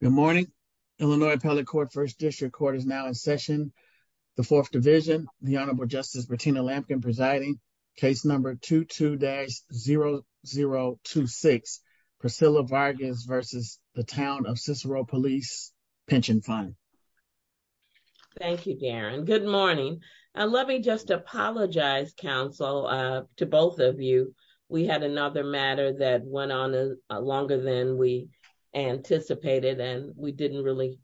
Good morning. Illinois Appellate Court First District Court is now in session. The Fourth Division, the Honorable Justice Bettina Lampkin presiding, case number 22-0026, Priscilla Vargas v. The Town of Cicero Police Pension Fund. Thank you, Darren. Good morning. Let me just apologize, counsel, to both of you. We had another matter that went on longer than we anticipated, and we didn't really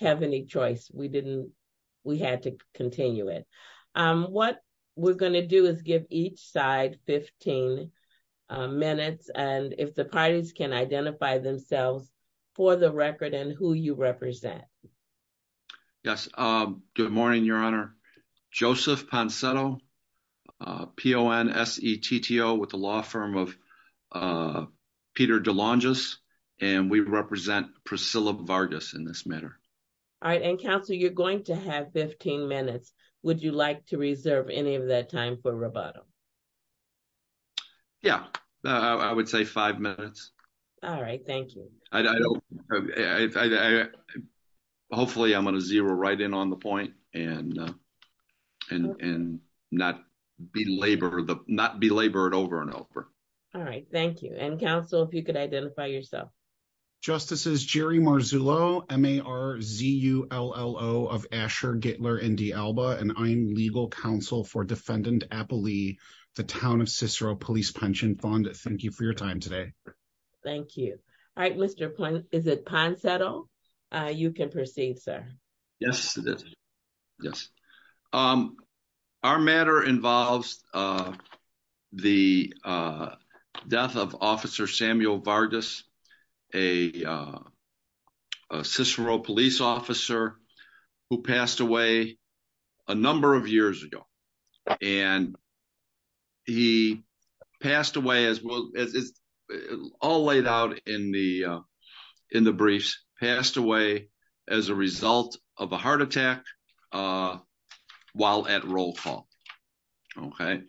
have any choice. We had to continue it. What we're going to do is give each side 15 minutes, and if the parties can identify themselves for the record and who you represent. Yes, good morning, Your Honor. Joseph Ponsetto, P-O-N-S-E-T-T-O, with the law firm of Peter DeLongis, and we represent Priscilla Vargas in this matter. All right, and counsel, you're going to have 15 minutes. Would you like to reserve any of that time for rebuttal? Yeah, I would say five minutes. All right, thank you. Hopefully, I'm going to zero right in on the point and not belabor it over and over. All right, thank you. And counsel, if you could identify yourself. Justices Jerry Marzullo, M-A-R-Z-U-L-L-O, of Asher, Gittler, and D'Alba, and I'm legal counsel for Defendant Appalee, The Town of Cicero Police Pension Fund. Thank you for your time today. Thank you. All right, Mr. Plin, is it Ponsetto? You can proceed, sir. Yes, it is. Yes. Our matter involves the death of Officer Samuel Vargas, a Cicero police officer who passed away a number of years ago, and he passed away as well, all laid out in the briefs, passed away as a result of a heart attack while at roll call. Okay.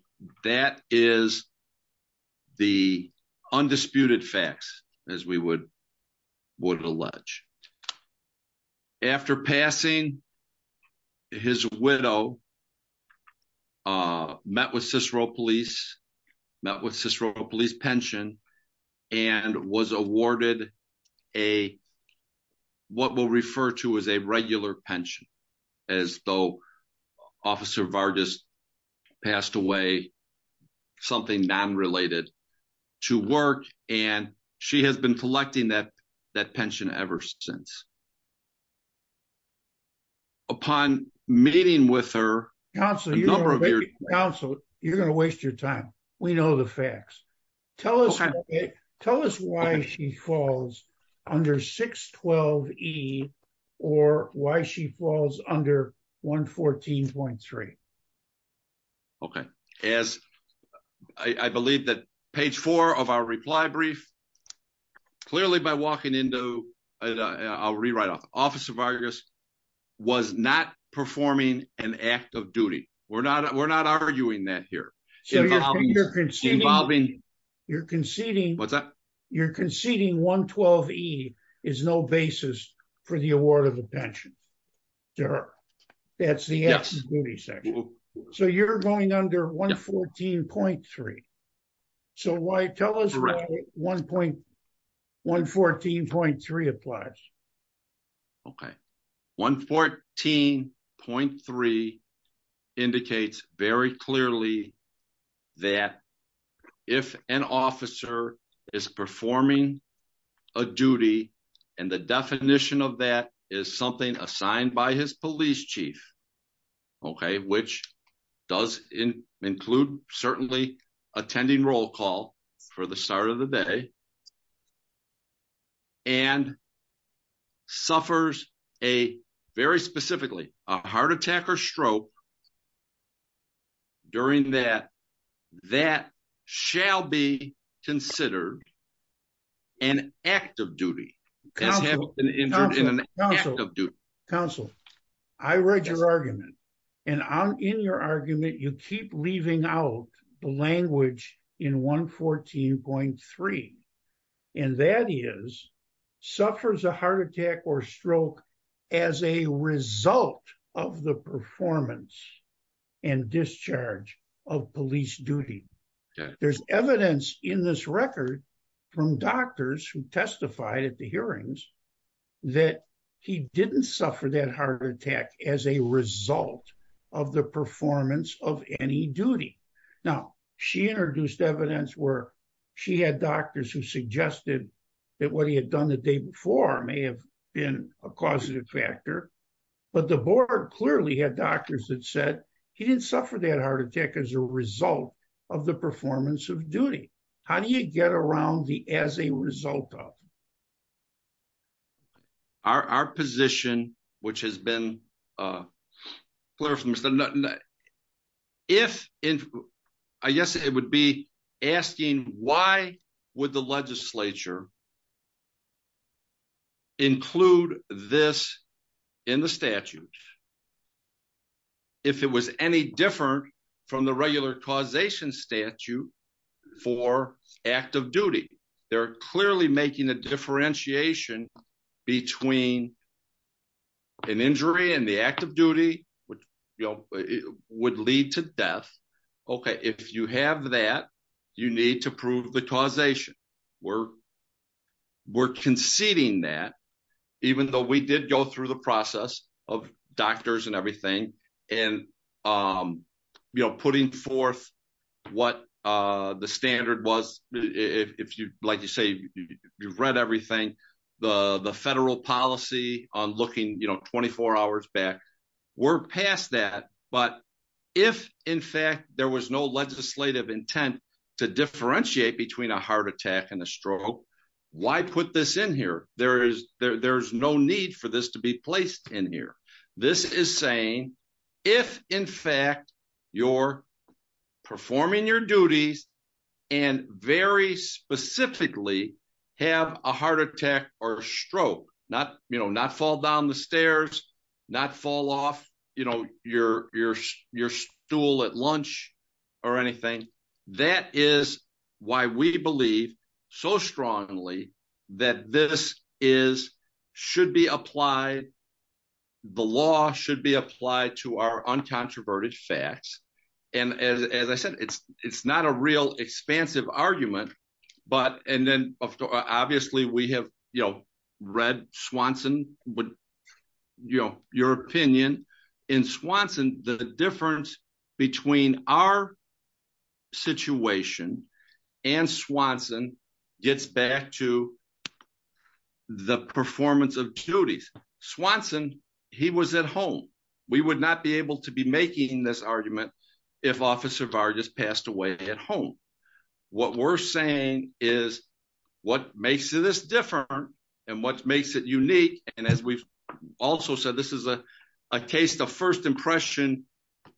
That is the undisputed facts, as we would allege. After passing, his widow met with Cicero police, met with Cicero police pension, and was awarded what we'll refer to as a regular pension, as though Officer Vargas passed away something non-related to work, and she has been collecting that pension ever since. Upon meeting with her, a number of years... Counsel, you're going to waste your time. We know the facts. Tell us why she falls under 612E, or why she falls under 114.3. Okay. As I believe that page four of our reply brief, clearly by walking into, I'll rewrite it, Officer Vargas was not performing an act of duty. We're not arguing that here. You're conceding 112E is no basis for the award of the pension to her. That's the 114.3 applies. Okay. 114.3 indicates very clearly that if an officer is performing a duty, and the definition of that is something assigned by his police chief, okay, which does include certainly attending roll call for the start of the day, and suffers a, very specifically, a heart attack or stroke during that, that shall be considered an act of duty. Counsel, I read your argument, and in your argument, you keep leaving out the language in 114.3, and that is, suffers a heart attack or stroke as a result of the performance and discharge of police duty. There's evidence in this record from doctors who testified at hearings that he didn't suffer that heart attack as a result of the performance of any duty. Now, she introduced evidence where she had doctors who suggested that what he had done the day before may have been a causative factor, but the board clearly had doctors that said he didn't suffer that heart attack as a result of the performance of duty. How do you get around the result of it? Our position, which has been clarified, I guess it would be asking why would the legislature include this in the statute if it was any different from the regular causation statute for act of duty? They're clearly making a differentiation between an injury and the act of duty, which, you know, would lead to death. Okay, if you have that, you need to prove the causation. We're conceding that, even though we did go through the process of doctors and everything, and, you know, putting forth what the standard was. If you, like you say, you've read everything, the federal policy on looking, you know, 24 hours back, we're past that, but if, in fact, there was no legislative intent to differentiate between a heart attack and a stroke, why put this in here? There's no need for this to be placed in here. This is saying, if, in fact, you're performing your duties and very specifically have a heart attack or stroke, not, you know, not fall down the stairs, not fall off, you know, your stool at lunch or anything, that is why we believe so strongly that this is, should be applied, the law should be applied to our uncontroverted facts, and as I said, it's not a real expansive argument, but, and then, obviously, we have, you know, Swanson gets back to the performance of duties. Swanson, he was at home. We would not be able to be making this argument if Officer Vargas passed away at home. What we're saying is, what makes this different and what makes it unique, and as we've also said, this is a case of first impression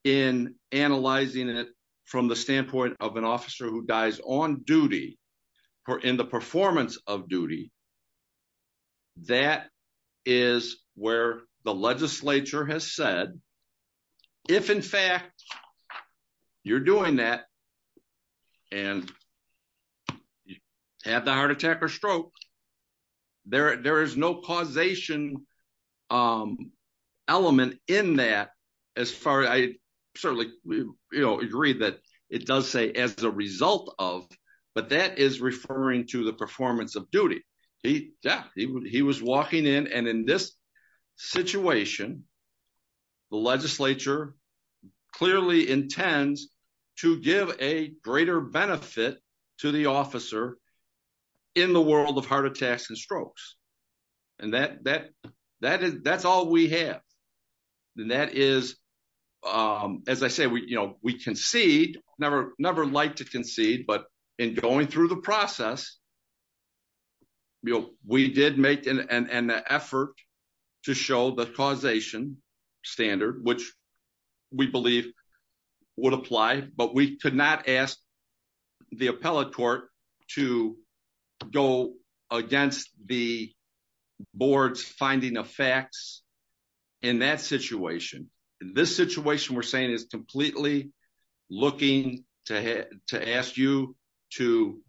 in analyzing it from the standpoint of an officer who dies on duty or in the performance of duty. That is where the legislature has said, if, in fact, you're doing that and have the heart attack or stroke, there is no causation element in that as far, I certainly, you know, agree that it does say as a result of, but that is referring to the performance of duty. He, yeah, he was walking in, and in this situation, the legislature clearly intends to give a greater benefit to the officer in the world of heart attacks and strokes, and that's all we have, and that is, as I say, we concede, never like to concede, but in going through the process, we did make an effort to show the causation standard, which we believe would apply, but we could not ask the appellate court to go against the board's finding of facts in that situation. This situation, we're saying, is completely looking to ask you to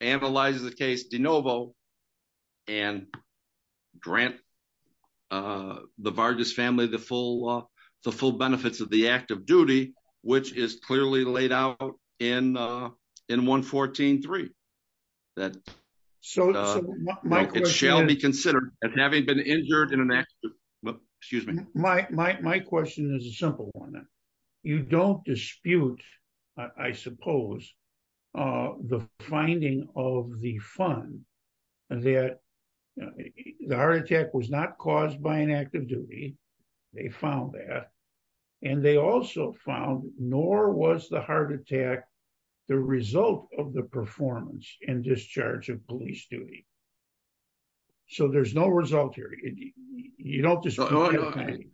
analyze the case de novo and grant the Vargas family the full benefits of the act of duty, which is clearly laid out in 114.3, that it shall be considered as having been injured in an act. My question is a simple one. You don't dispute, I suppose, the finding of the fund that the heart attack was not caused by an act of duty. They found that, and they also found nor was the heart attack the result of the performance and discharge of police duty, so there's no result here. You don't dispute.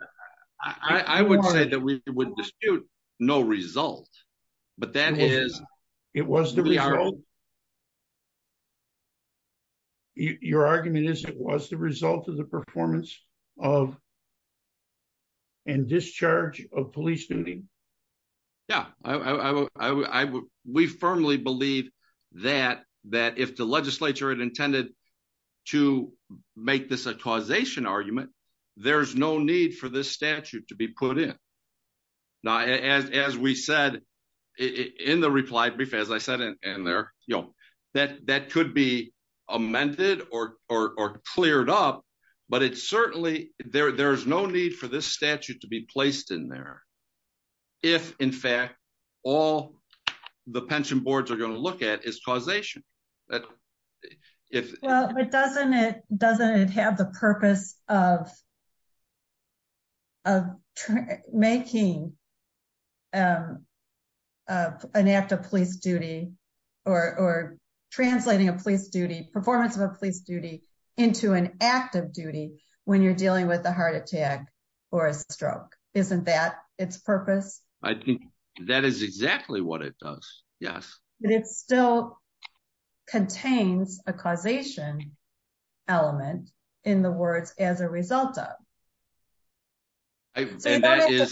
I would say that we would dispute no result, but that is... Your argument is it was the result of the performance of and discharge of police duty. Yeah, we firmly believe that if the legislature had intended to make this a causation argument, there's no need for this statute to be put in. Now, as we said in the reply brief, as I said in there, that could be amended or cleared up, but it's certainly... There's no need for this statute to be placed in there if, in fact, all the pension boards are going to look at is causation. But if... Well, but doesn't it have the purpose of making an act of police duty or translating a police duty, performance of a police duty, into an act of duty when you're dealing with a heart attack or a stroke? Isn't that its purpose? I think that is exactly what it does, yes. But it still contains a causation element in the words, as a result of. That's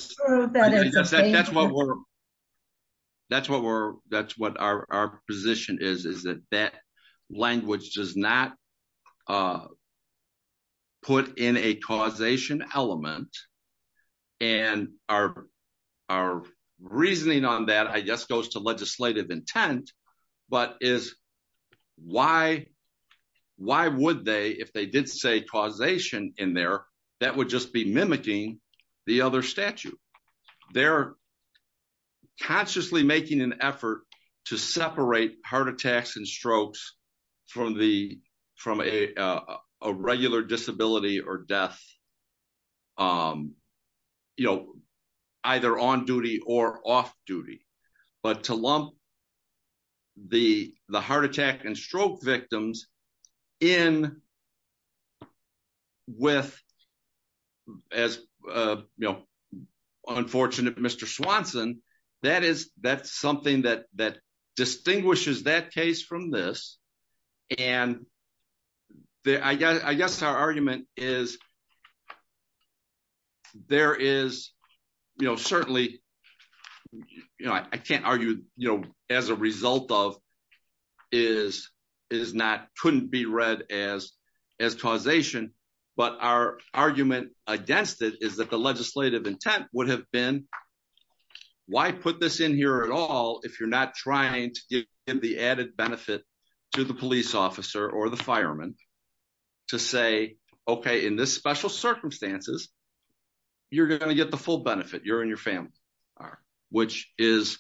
what our position is, is that that language does not put in a causation element. And our reasoning on that, I guess, goes to legislative intent, but is why would they, if they did say causation in there, that would just be mimicking the other statute. They're consciously making an effort to separate heart attacks and strokes from a regular disability or death, either on duty or off duty. But to lump the heart attack and stroke victims in with, as unfortunate Mr. Swanson, that's something that and I guess our argument is, there is certainly, I can't argue, as a result of, couldn't be read as causation. But our argument against it is that the legislative intent would have been, why put this in here at all, if you're not trying to give the added benefit to the police officer or the fireman to say, okay, in this special circumstances, you're going to get the full benefit, you're in your family, which is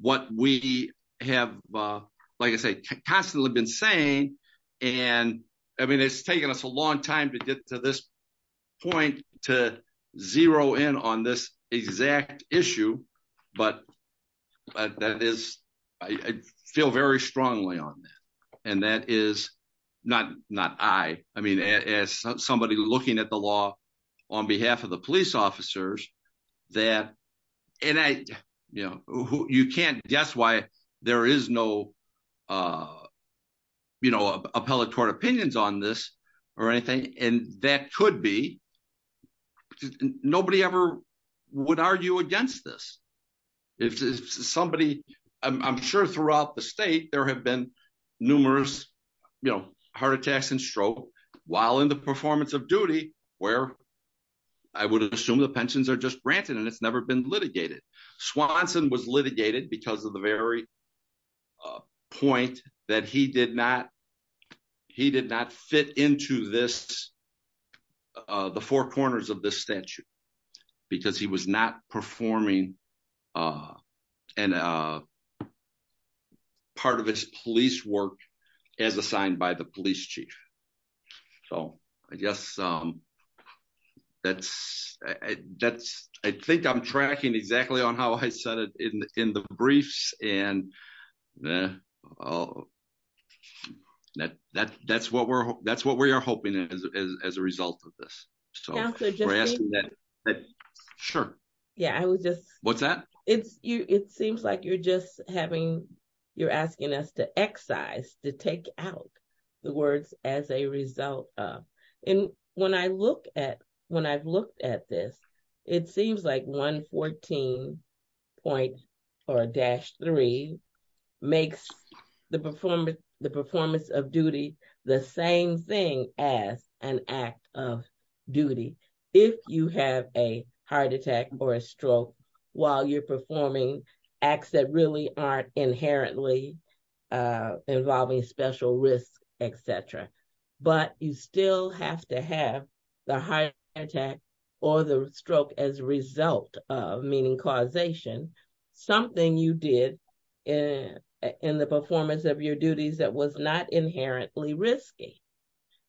what we have, like I say, constantly been saying. And I mean, it's taken us a long time to get to this point to zero in on this exact issue. But that is, I feel very strongly on that. And that is not not I, I mean, as somebody looking at the law, on behalf of the police officers, that and I, you know, you can't guess why there is no, you know, appellate court opinions on this, or anything. And that could be, nobody ever would argue against this. If somebody, I'm sure throughout the state, there have been numerous, you know, heart attacks and stroke, while in the performance of duty, where I would assume the pensions are just granted, and it's never been litigated. Swanson was litigated because of the very point that he did not, he did not fit into this, the four corners of this statute, because he was not performing part of his police work, as assigned by the police chief. So I guess that's, that's, I think I'm tracking exactly on how I said it in the briefs. And that that that's what we're, that's what we are hoping is as a result of this. So sure. Yeah, I was just what's that? It's you, it seems like you're just having, you're asking us to excise to take out the words as a result. And when I look at when I've looked at this, it seems like 114.4-3 makes the performance, the performance of duty, the same thing as an act of duty. If you have a heart attack or a stroke, while you're performing acts that really aren't inherently involving special risks, etc. But you still have to have the heart attack or the stroke as result of meaning causation, something you did in the performance of your duties that was not inherently risky.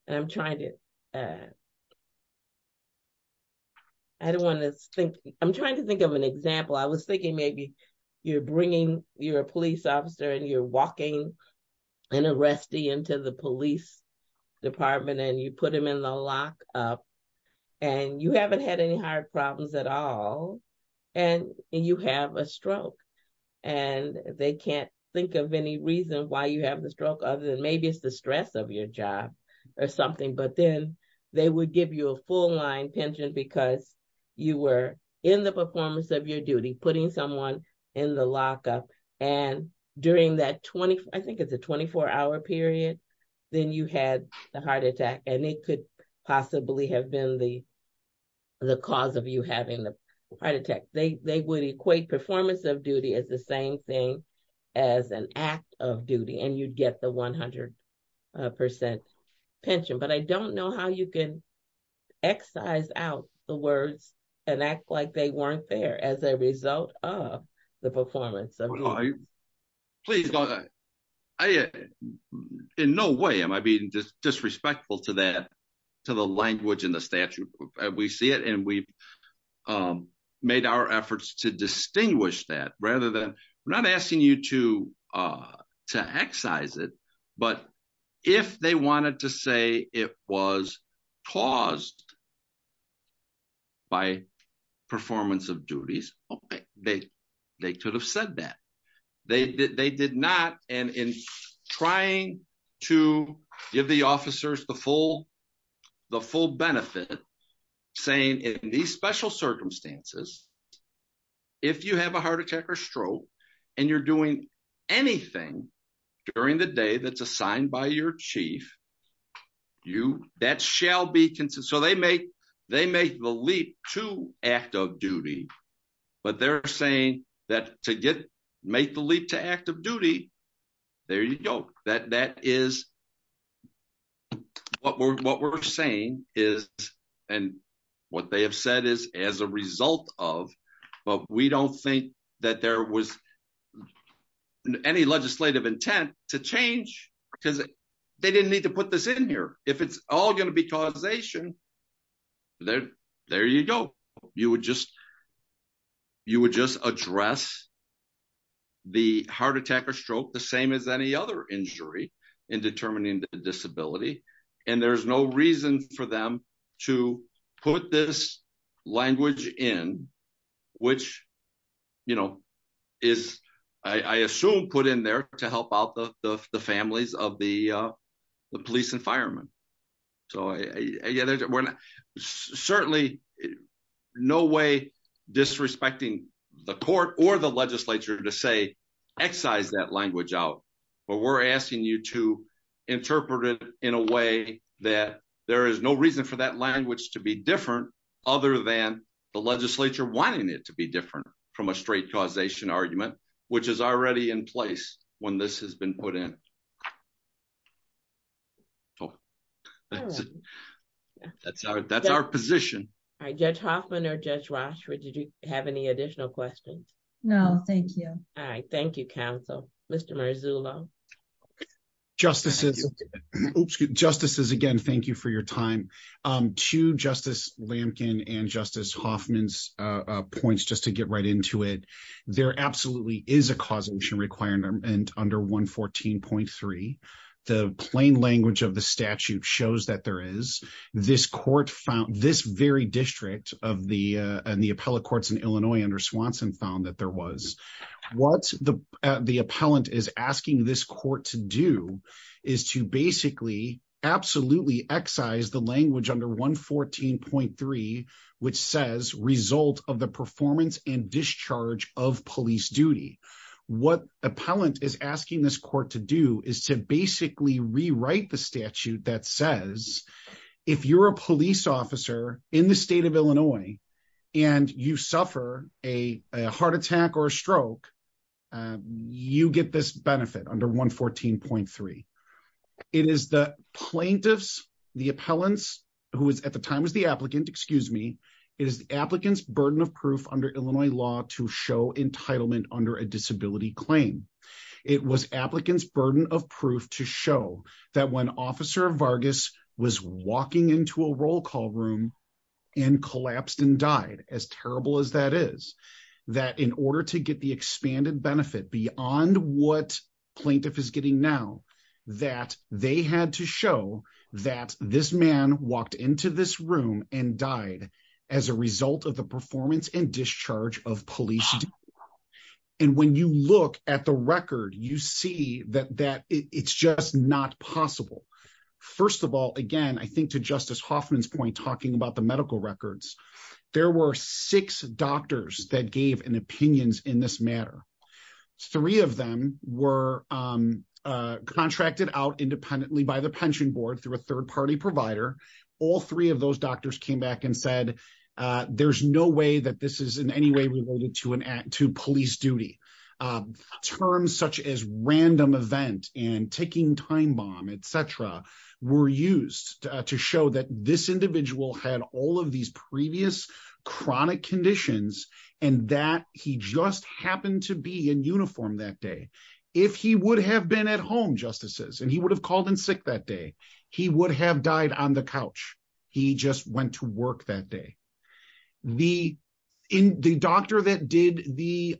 And I'm trying to, I don't want to think, I'm trying to think of an example, I was thinking maybe you're bringing your police officer and you're walking an arrestee into the police department and you put them in the lock up. And you haven't had any heart problems at all. And you have a stroke. And they can't think of any reason why you have the stroke other than maybe it's the stress of your job or something. But then they would give you a full line pension because you were in the performance of your duty, putting someone in the lockup. And during that 20, I think it's a 24 hour period, then you had the heart attack and it could possibly have been the cause of you having the heart attack. They would equate performance of duty as the same thing as an act of duty and you'd get the 100% pension. But I don't know how you can excise out the words and act like they weren't there as a result of the performance. Well, please, in no way am I being disrespectful to that, to the language in the statute. We see it and we've made our efforts to distinguish that rather than not asking you to to excise it. But if they wanted to say it was caused by performance of duties, okay, they could have said that. They did not. And in trying to give the officers the full benefit, saying in these special circumstances, if you have a heart attack or stroke, and you're doing anything during the day that's assigned by your chief, that shall be considered. They make the leap to act of duty, but they're saying that to make the leap to active duty, there you go. What we're saying is, and what they have said is as a result of, but we don't think that there was any legislative intent to change because they didn't need to put this in here. If it's all going to be causation, there you go. You would just address the heart attack or stroke the same as any other injury in determining the disability. And there's no reason for them to put this language in, which is, I assume, put in there to help out the families of the police and firemen. Certainly, no way disrespecting the court or the legislature to say, excise that language out. But we're asking you to interpret it in a way that there is no reason for that language to be different other than the legislature wanting it to be different from a in place when this has been put in. That's our position. Judge Hoffman or Judge Rashford, did you have any additional questions? No, thank you. All right. Thank you, counsel. Mr. Marzullo. Justices, again, thank you for your time. To Justice Lampkin and Justice Hoffman's points, just to get right into it, there absolutely is a causation requirement under 114.3. The plain language of the statute shows that there is. This very district and the appellate courts in Illinois under Swanson found that there was. What the appellant is asking this court to do is to basically absolutely excise the language under 114.3, which says result of the performance and discharge of police duty. What appellant is asking this court to do is to basically rewrite the statute that says, if you're a police officer in the state of Illinois and you suffer a heart attack or a stroke, you get this benefit under 114.3. It is the plaintiffs, the appellants, who is at the time was the applicant, excuse me, it is the applicant's burden of proof under Illinois law to show entitlement under a disability claim. It was applicant's burden of proof to show that when Officer Vargas was walking into a roll call room and collapsed and died, as terrible as that is, that in order to get the expanded benefit beyond what plaintiff is getting now, that they had to show that this man walked into this room and died as a result of the performance and discharge of police. And when you look at the record, you see that that it's just not possible. First of all, again, I think to Justice Hoffman's talking about the medical records, there were six doctors that gave an opinions in this matter. Three of them were contracted out independently by the pension board through a third party provider. All three of those doctors came back and said, there's no way that this is in any way related to police duty. Terms such as random event and taking time bomb, et cetera, were used to show that this individual had all of these previous chronic conditions and that he just happened to be in uniform that day. If he would have been at home, Justices, and he would have called in sick that day, he would have died on the couch. He just went to work that day. The doctor that did the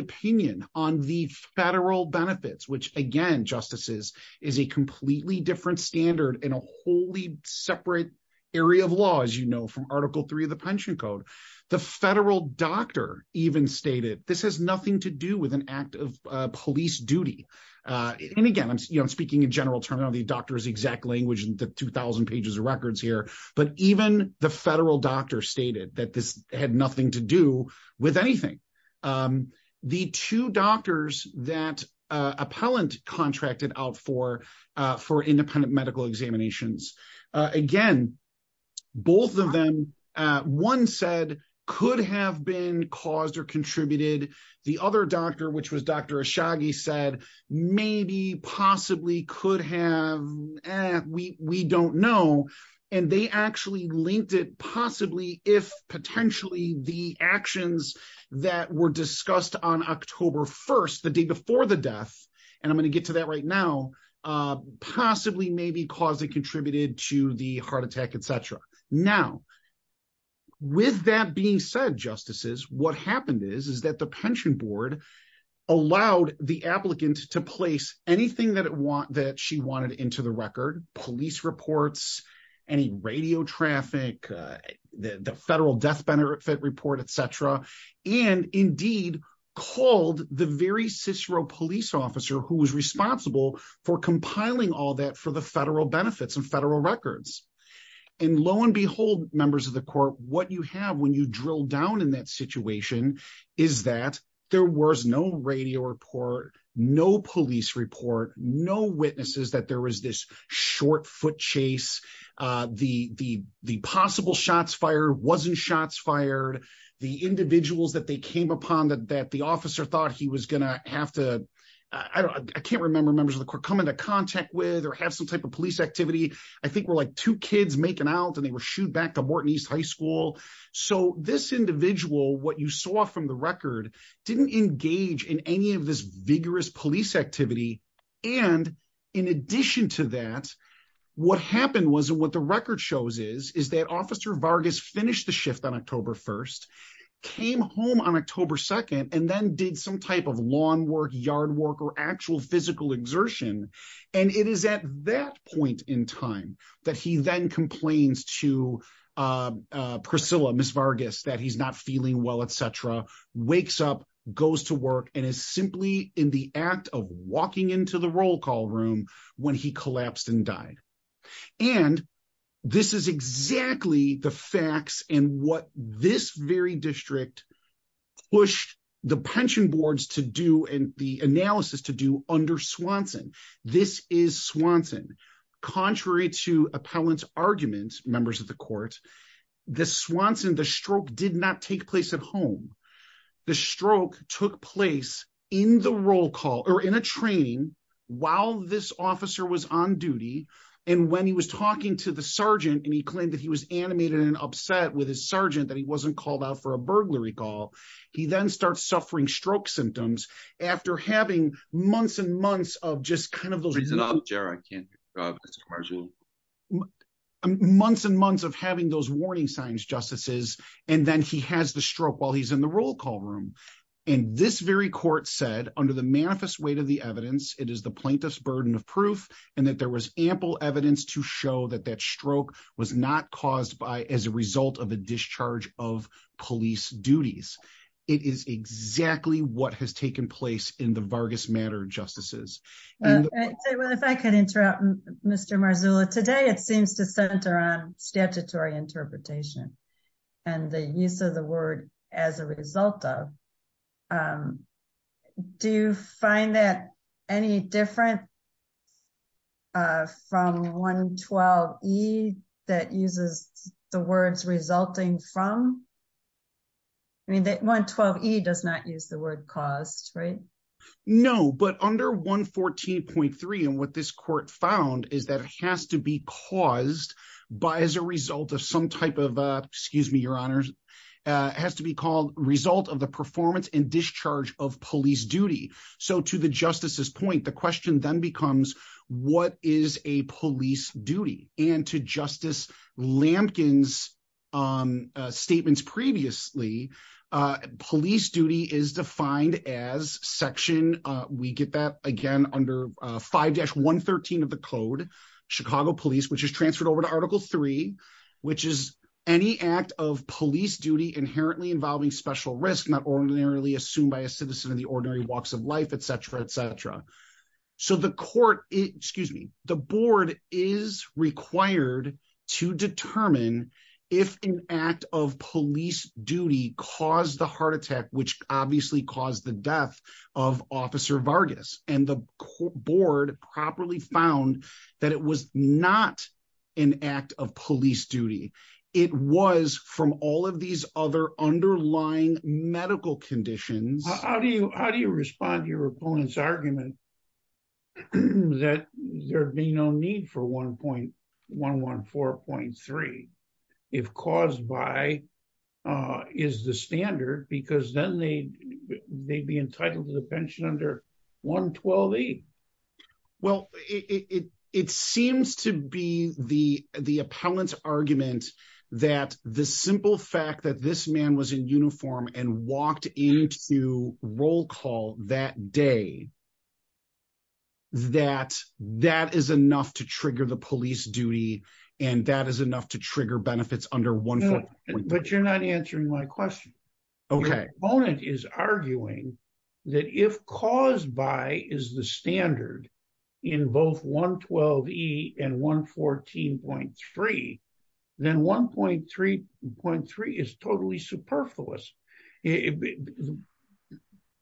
opinion on the federal benefits, which again, Justices, is a completely different standard in a wholly separate area of law, as you know, from article three of the pension code. The federal doctor even stated, this has nothing to do with an act of police duty. And again, I'm speaking in general terminology. Doctor is the exact language in the 2000 pages of records here. But even the federal doctor stated that this had nothing to do with anything. The two doctors that appellant contracted out for, for independent medical examinations. Again, both of them, one said could have been caused or contributed. The other doctor, which was Dr. Ashagi said, maybe possibly could have, we don't know. And they actually linked it possibly if potentially the actions that were discussed on October 1st, the day before the death. And I'm going to get to that right now. Possibly maybe cause it contributed to the heart attack, et cetera. Now, with that being said, Justices, what happened is, is that the pension board allowed the applicant to place anything that it want, that she wanted into the record, police reports, any radio traffic, the federal death benefit report, et cetera. And indeed called the very Cicero police officer who was responsible for compiling all that for the federal benefits and federal records. And lo and behold, members of the court, what you have when you drill down in that no police report, no witnesses that there was this short foot chase, the, the, the possible shots fired, wasn't shots fired. The individuals that they came upon that, that the officer thought he was gonna have to, I don't, I can't remember members of the court come into contact with, or have some type of police activity. I think we're like two kids making out and they were shooed back to Morton East High School. So this individual, what you saw from the record didn't engage in any of this vigorous police activity. And in addition to that, what happened was, and what the record shows is, is that officer Vargas finished the shift on October 1st, came home on October 2nd, and then did some type of lawn work, yard work, or actual physical exertion. And it is at that point in time that he then complains to Priscilla, Miss Vargas, that he's not feeling well, et cetera, wakes up, goes to work, and is simply in the act of walking into the roll call room when he collapsed and died. And this is exactly the facts and what this very district pushed the pension boards to do and the analysis to do under Swanson. This is Swanson. Contrary to appellant's arguments, members of the court, the Swanson, the stroke did not take place at home. The stroke took place in the roll call or in a training while this officer was on duty. And when he was talking to the sergeant and he claimed that he was animated and upset with his sergeant that he wasn't called out for a burglary call, he then starts suffering stroke symptoms after having months and months of just kind of reason. Months and months of having those warning signs, justices, and then he has the stroke while he's in the roll call room. And this very court said under the manifest weight of the evidence, it is the plaintiff's burden of proof, and that there was ample evidence to show that that stroke was not caused by as a result of a discharge of police duties. It is exactly what has taken place in the Vargas matter justices. Well, if I could interrupt Mr. Marzullo, today it seems to center on statutory interpretation and the use of the word as a result of. Do you find that any different from 112E that uses the words resulting from? I mean, 112E does not use the word caused, right? No, but under 114.3 and what this court found is that it has to be caused by as a result of some type of, excuse me, your honors, it has to be called result of the performance and discharge of police duty. So to the justices point, the question then becomes what is a police duty? And to Justice Lampkin's statements previously, police duty is defined as section, we get that again under 5-113 of the code, Chicago police, which is transferred over to article three, which is any act of police duty inherently involving special risks not ordinarily assumed by a citizen in the ordinary walks of life, et cetera, et cetera. So the court, excuse me, the board is required to determine if an act of police duty caused the heart attack, which obviously caused the death of officer Vargas and the board properly found that it was not an act of police duty. It was from all of these other underlying medical conditions. How do you respond to your opponent's argument that there'd be no need for 1.114.3 if caused by is the standard because then they'd be entitled to the pension under 112E? Well, it seems to be the appellant's argument that the simple fact that this man was in uniform and walked into roll call that day, that that is enough to trigger the police duty and that is enough to trigger benefits under 1.114.3. But you're not answering my question. Opponent is arguing that if caused by is the standard in both 112E and 1.114.3, then 1.114.3 is totally superfluous. The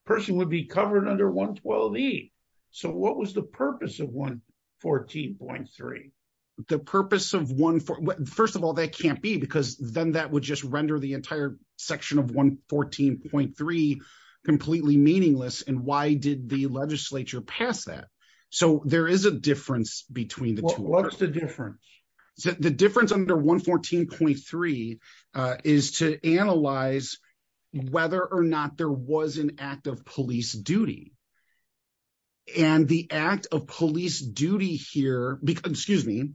person would be covered under 112E. So what was the purpose of 1.114.3? The purpose of 1.114.3, first of all, it can't be because then that would just render the entire section of 1.114.3 completely meaningless. And why did the legislature pass that? So there is a difference between the two. What's the difference? The difference under 1.114.3 is to analyze whether or not there was an act of police duty. And the act of police duty here, excuse me,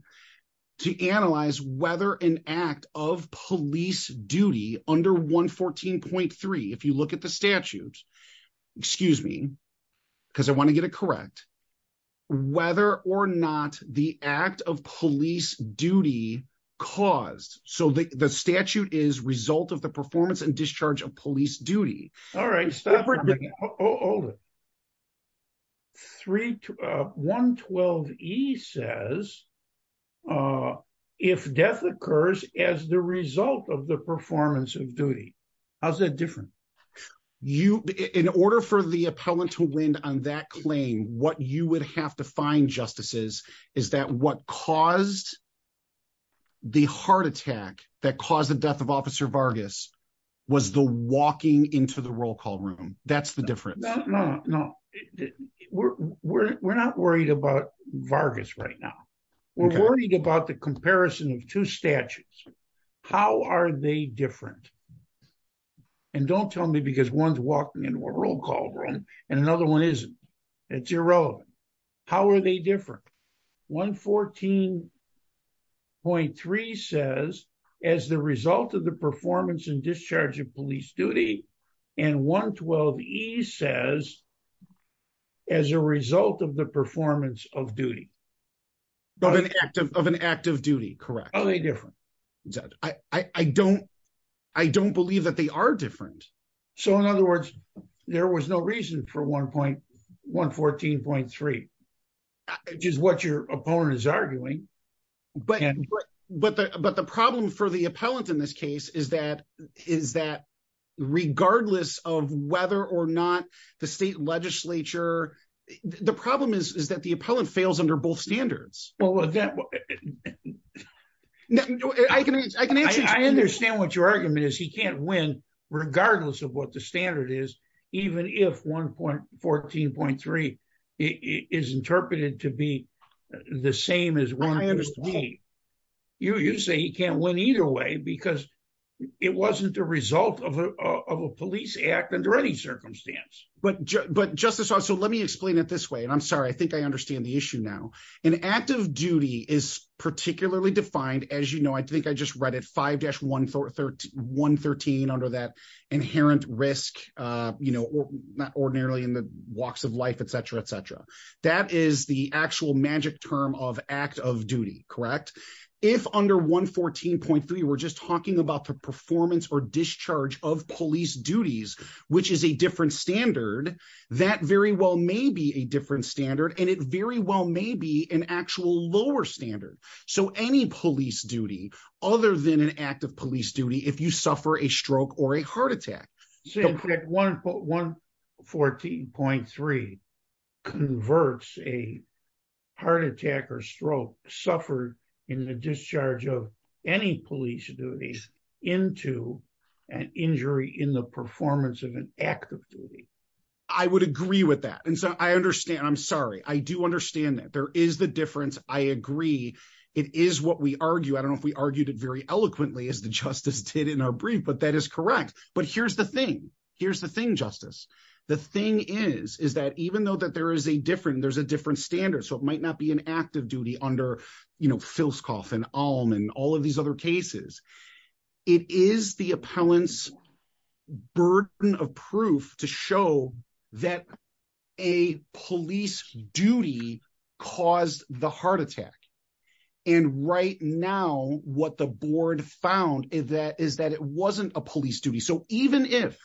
to analyze whether an act of police duty under 1.114.3, if you look at the statute, excuse me, because I want to get it correct, whether or not the act of police duty caused. So the statute is result of the performance and discharge of police duty. All right. 1.114.3 says if death occurs as the result of the performance of duty. How's that different? In order for the appellant to win on that claim, what you would have to find, Justices, is that what caused the heart attack that caused the death of Officer Vargas was the walking into the roll call room. That's the difference. No, no. We're not worried about Vargas right now. We're worried about the comparison of two statutes. How are they different? And don't tell me because one's walking into a roll call room and another one isn't. It's irrelevant. How are they different? 1.114.3 says as the result of performance and discharge of police duty. And 1.112.e says as a result of the performance of duty. Of an act of duty. Correct. How are they different? I don't believe that they are different. So in other words, there was no reason for 1.114.3, which is what your opponent is arguing. But the problem for the appellant in this case is that regardless of whether or not the state legislature, the problem is that the appellant fails under both standards. I understand what your argument is. He can't win regardless of what the standard is, even if 1.114.3 is interpreted to be the same as 1.114.3. You say he can't win either way because it wasn't the result of a police act under any circumstance. But Justice, so let me explain it this way. And I'm sorry, I think I understand the issue now. An act of duty is particularly defined, as you know, I think I just read it, 5-113 under that inherent risk, not ordinarily in the walks of life, et cetera, et cetera. That is the actual magic term of act of duty, correct? If under 1.114.3, we're just talking about the performance or discharge of police duties, which is a different standard, that very well may be a different standard. And it very well may be an actual lower standard. So any police duty, other than an act of police duty, if you suffer a stroke or a heart attack. 1.114.3 converts a heart attack or stroke suffered in the discharge of any police duties into an injury in the performance of an act of duty. I would agree with that. And so I understand. I'm sorry. I do understand that there is the difference. I agree. It is what we argue. I don't know if we argued it very eloquently as the justice did in our brief, but that is correct. But here's the thing. Here's the thing, Justice. The thing is, is that even though that there is a different, there's a different standard. So it might not be an act of duty under, you know, Filscoff and Alm and all of these other cases. It is the appellant's burden of proof to show that a police duty caused the heart attack. And right now, what the board found is that is that it wasn't a police duty. So even if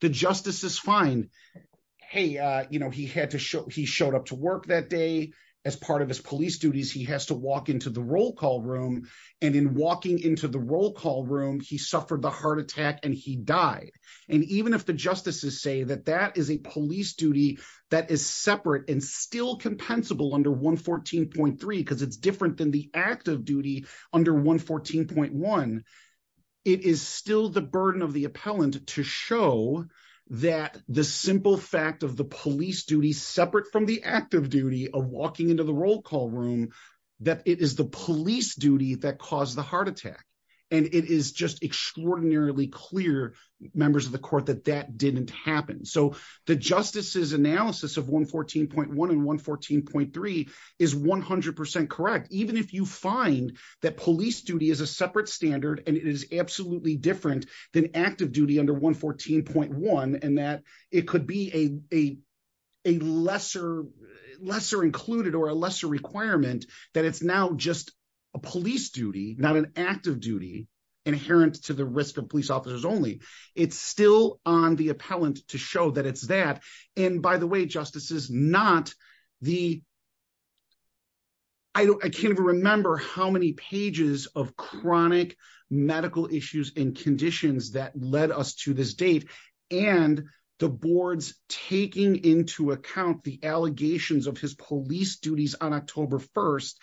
the justice is fine, hey, you know, he had to show he showed up to work that day as part of his police duties, he has to walk into the roll call room. And in walking into the roll call room, he suffered the heart attack and he died. And even if the justices say that that is a police duty that is separate and still compensable under 114.3, because it's different than the act of duty under 114.1, it is still the burden of the appellant to show that the simple fact of the police duty separate from the active duty of walking into the roll call room, that it is the police duty that caused the heart and it is just extraordinarily clear members of the court that that didn't happen. So the justice's analysis of 114.1 and 114.3 is 100% correct. Even if you find that police duty is a separate standard, and it is absolutely different than active duty under 114.1, and that it could be a lesser included or a lesser requirement that it's now just a police duty, not an active duty inherent to the risk of police officers only. It's still on the appellant to show that it's that. And by the way, justices, not the, I can't even remember how many pages of chronic medical issues and conditions that led us to this date. And the board's taking into account the allegations of his police duties on October 1st,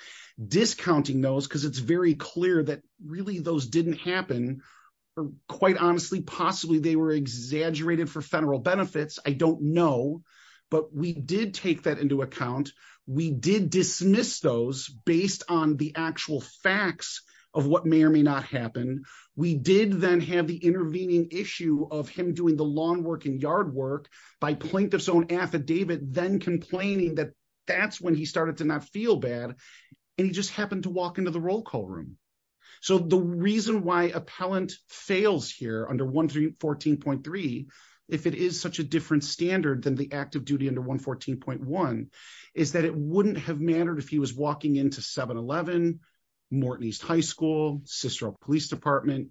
discounting those, because it's very clear that really those didn't happen. Quite honestly, possibly they were exaggerated for federal benefits. I don't know, but we did take that into account. We did dismiss those based on the actual facts of what may or may not happen. We did then have the intervening issue of him doing the lawn work and yard work by plaintiff's own affidavit, then complaining that that's when he started to not feel bad. And he just happened to walk into the roll call room. So the reason why appellant fails here under 114.3, if it is such a different standard than the active duty under 114.1, is that it wouldn't have mattered if he was walking into 7-Eleven, Morton East High School, Cicero Police Department,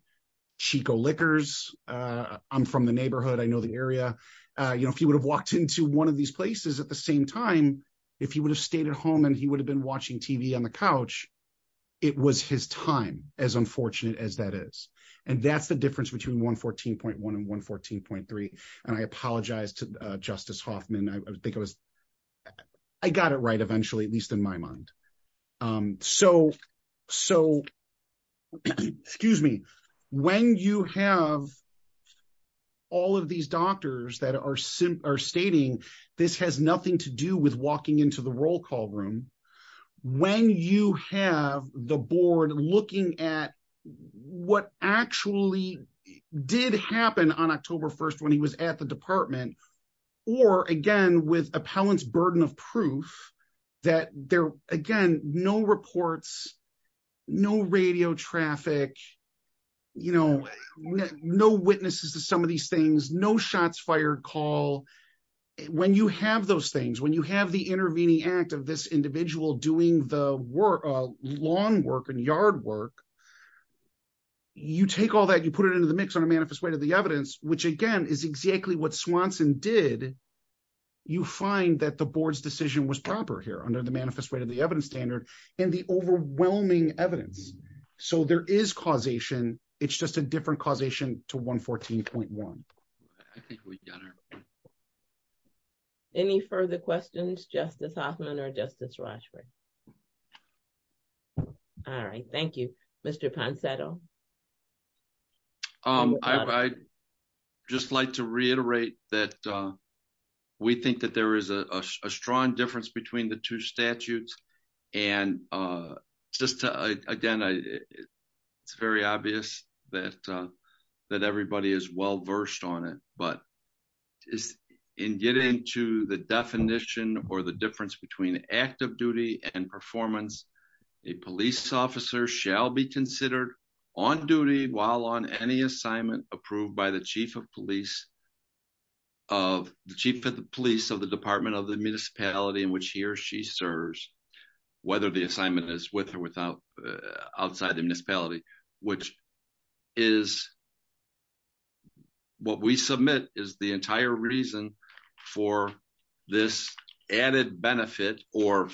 Chico Liquors. I'm from the neighborhood. I know the area. If he would have walked into one of the TV on the couch, it was his time, as unfortunate as that is. And that's the difference between 114.1 and 114.3. And I apologize to Justice Hoffman. I think I was, I got it right eventually, at least in my mind. So, excuse me, when you have all of these doctors that are stating this has nothing to do with walking into the roll call room, when you have the board looking at what actually did happen on October 1st when he was at the department, or again, with appellant's burden of proof, that there, again, no reports, no radio traffic, you know, no witnesses to some of these things, no shots fired call, when you have those things, when you have the intervening act of this individual doing the lawn work and yard work, you take all that, you put it into the mix on a manifest way to the evidence, which again, is exactly what Swanson did. You find that the board's decision was proper here under the manifest way to the evidence standard and the overwhelming evidence. So there is causation. It's just a different causation to 114.1. Any further questions, Justice Hoffman or Justice Rochford? All right. Thank you, Mr. Ponsetto. I'd just like to reiterate that we think that there is a strong difference between the two it's very obvious that everybody is well versed on it, but in getting to the definition or the difference between active duty and performance, a police officer shall be considered on duty while on any assignment approved by the chief of police of the department of the municipality in which he or she serves, whether the assignment is with or without outside the municipality, which is what we submit is the entire reason for this added benefit or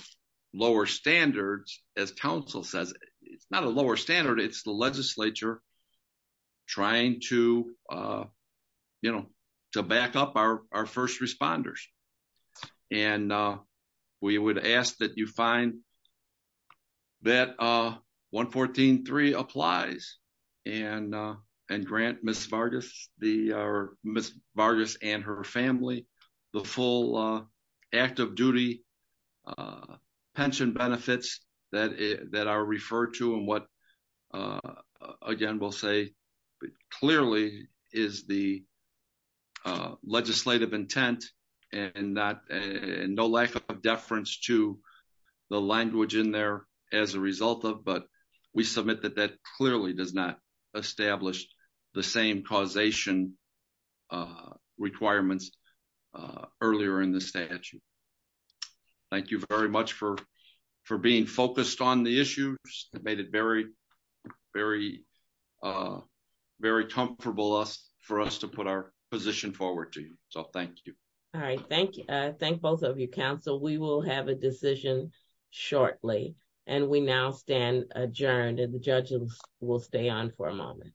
lower standards, as council says, it's not a lower standard, it's the legislature trying to, you know, to back up our first responders. And, uh, we would ask that you find that, uh, 114.3 applies and, uh, and grant Ms. Vargas the, or Ms. Vargas and her family, the full, uh, active duty, uh, pension benefits that, that are referred to and what, uh, again, we'll say clearly is the, uh, legislative intent and not, uh, no lack of deference to the language in there as a result of, but we submit that that clearly does not establish the same causation, uh, requirements, uh, earlier in the statute. Thank you very much for, for being focused on the issues that made it very, very, uh, very comfortable for us to put our position forward to you. So thank you. All right. Thank you. Uh, thank both of you council. We will have a decision shortly and we now stand adjourned and the judges will stay on for a moment.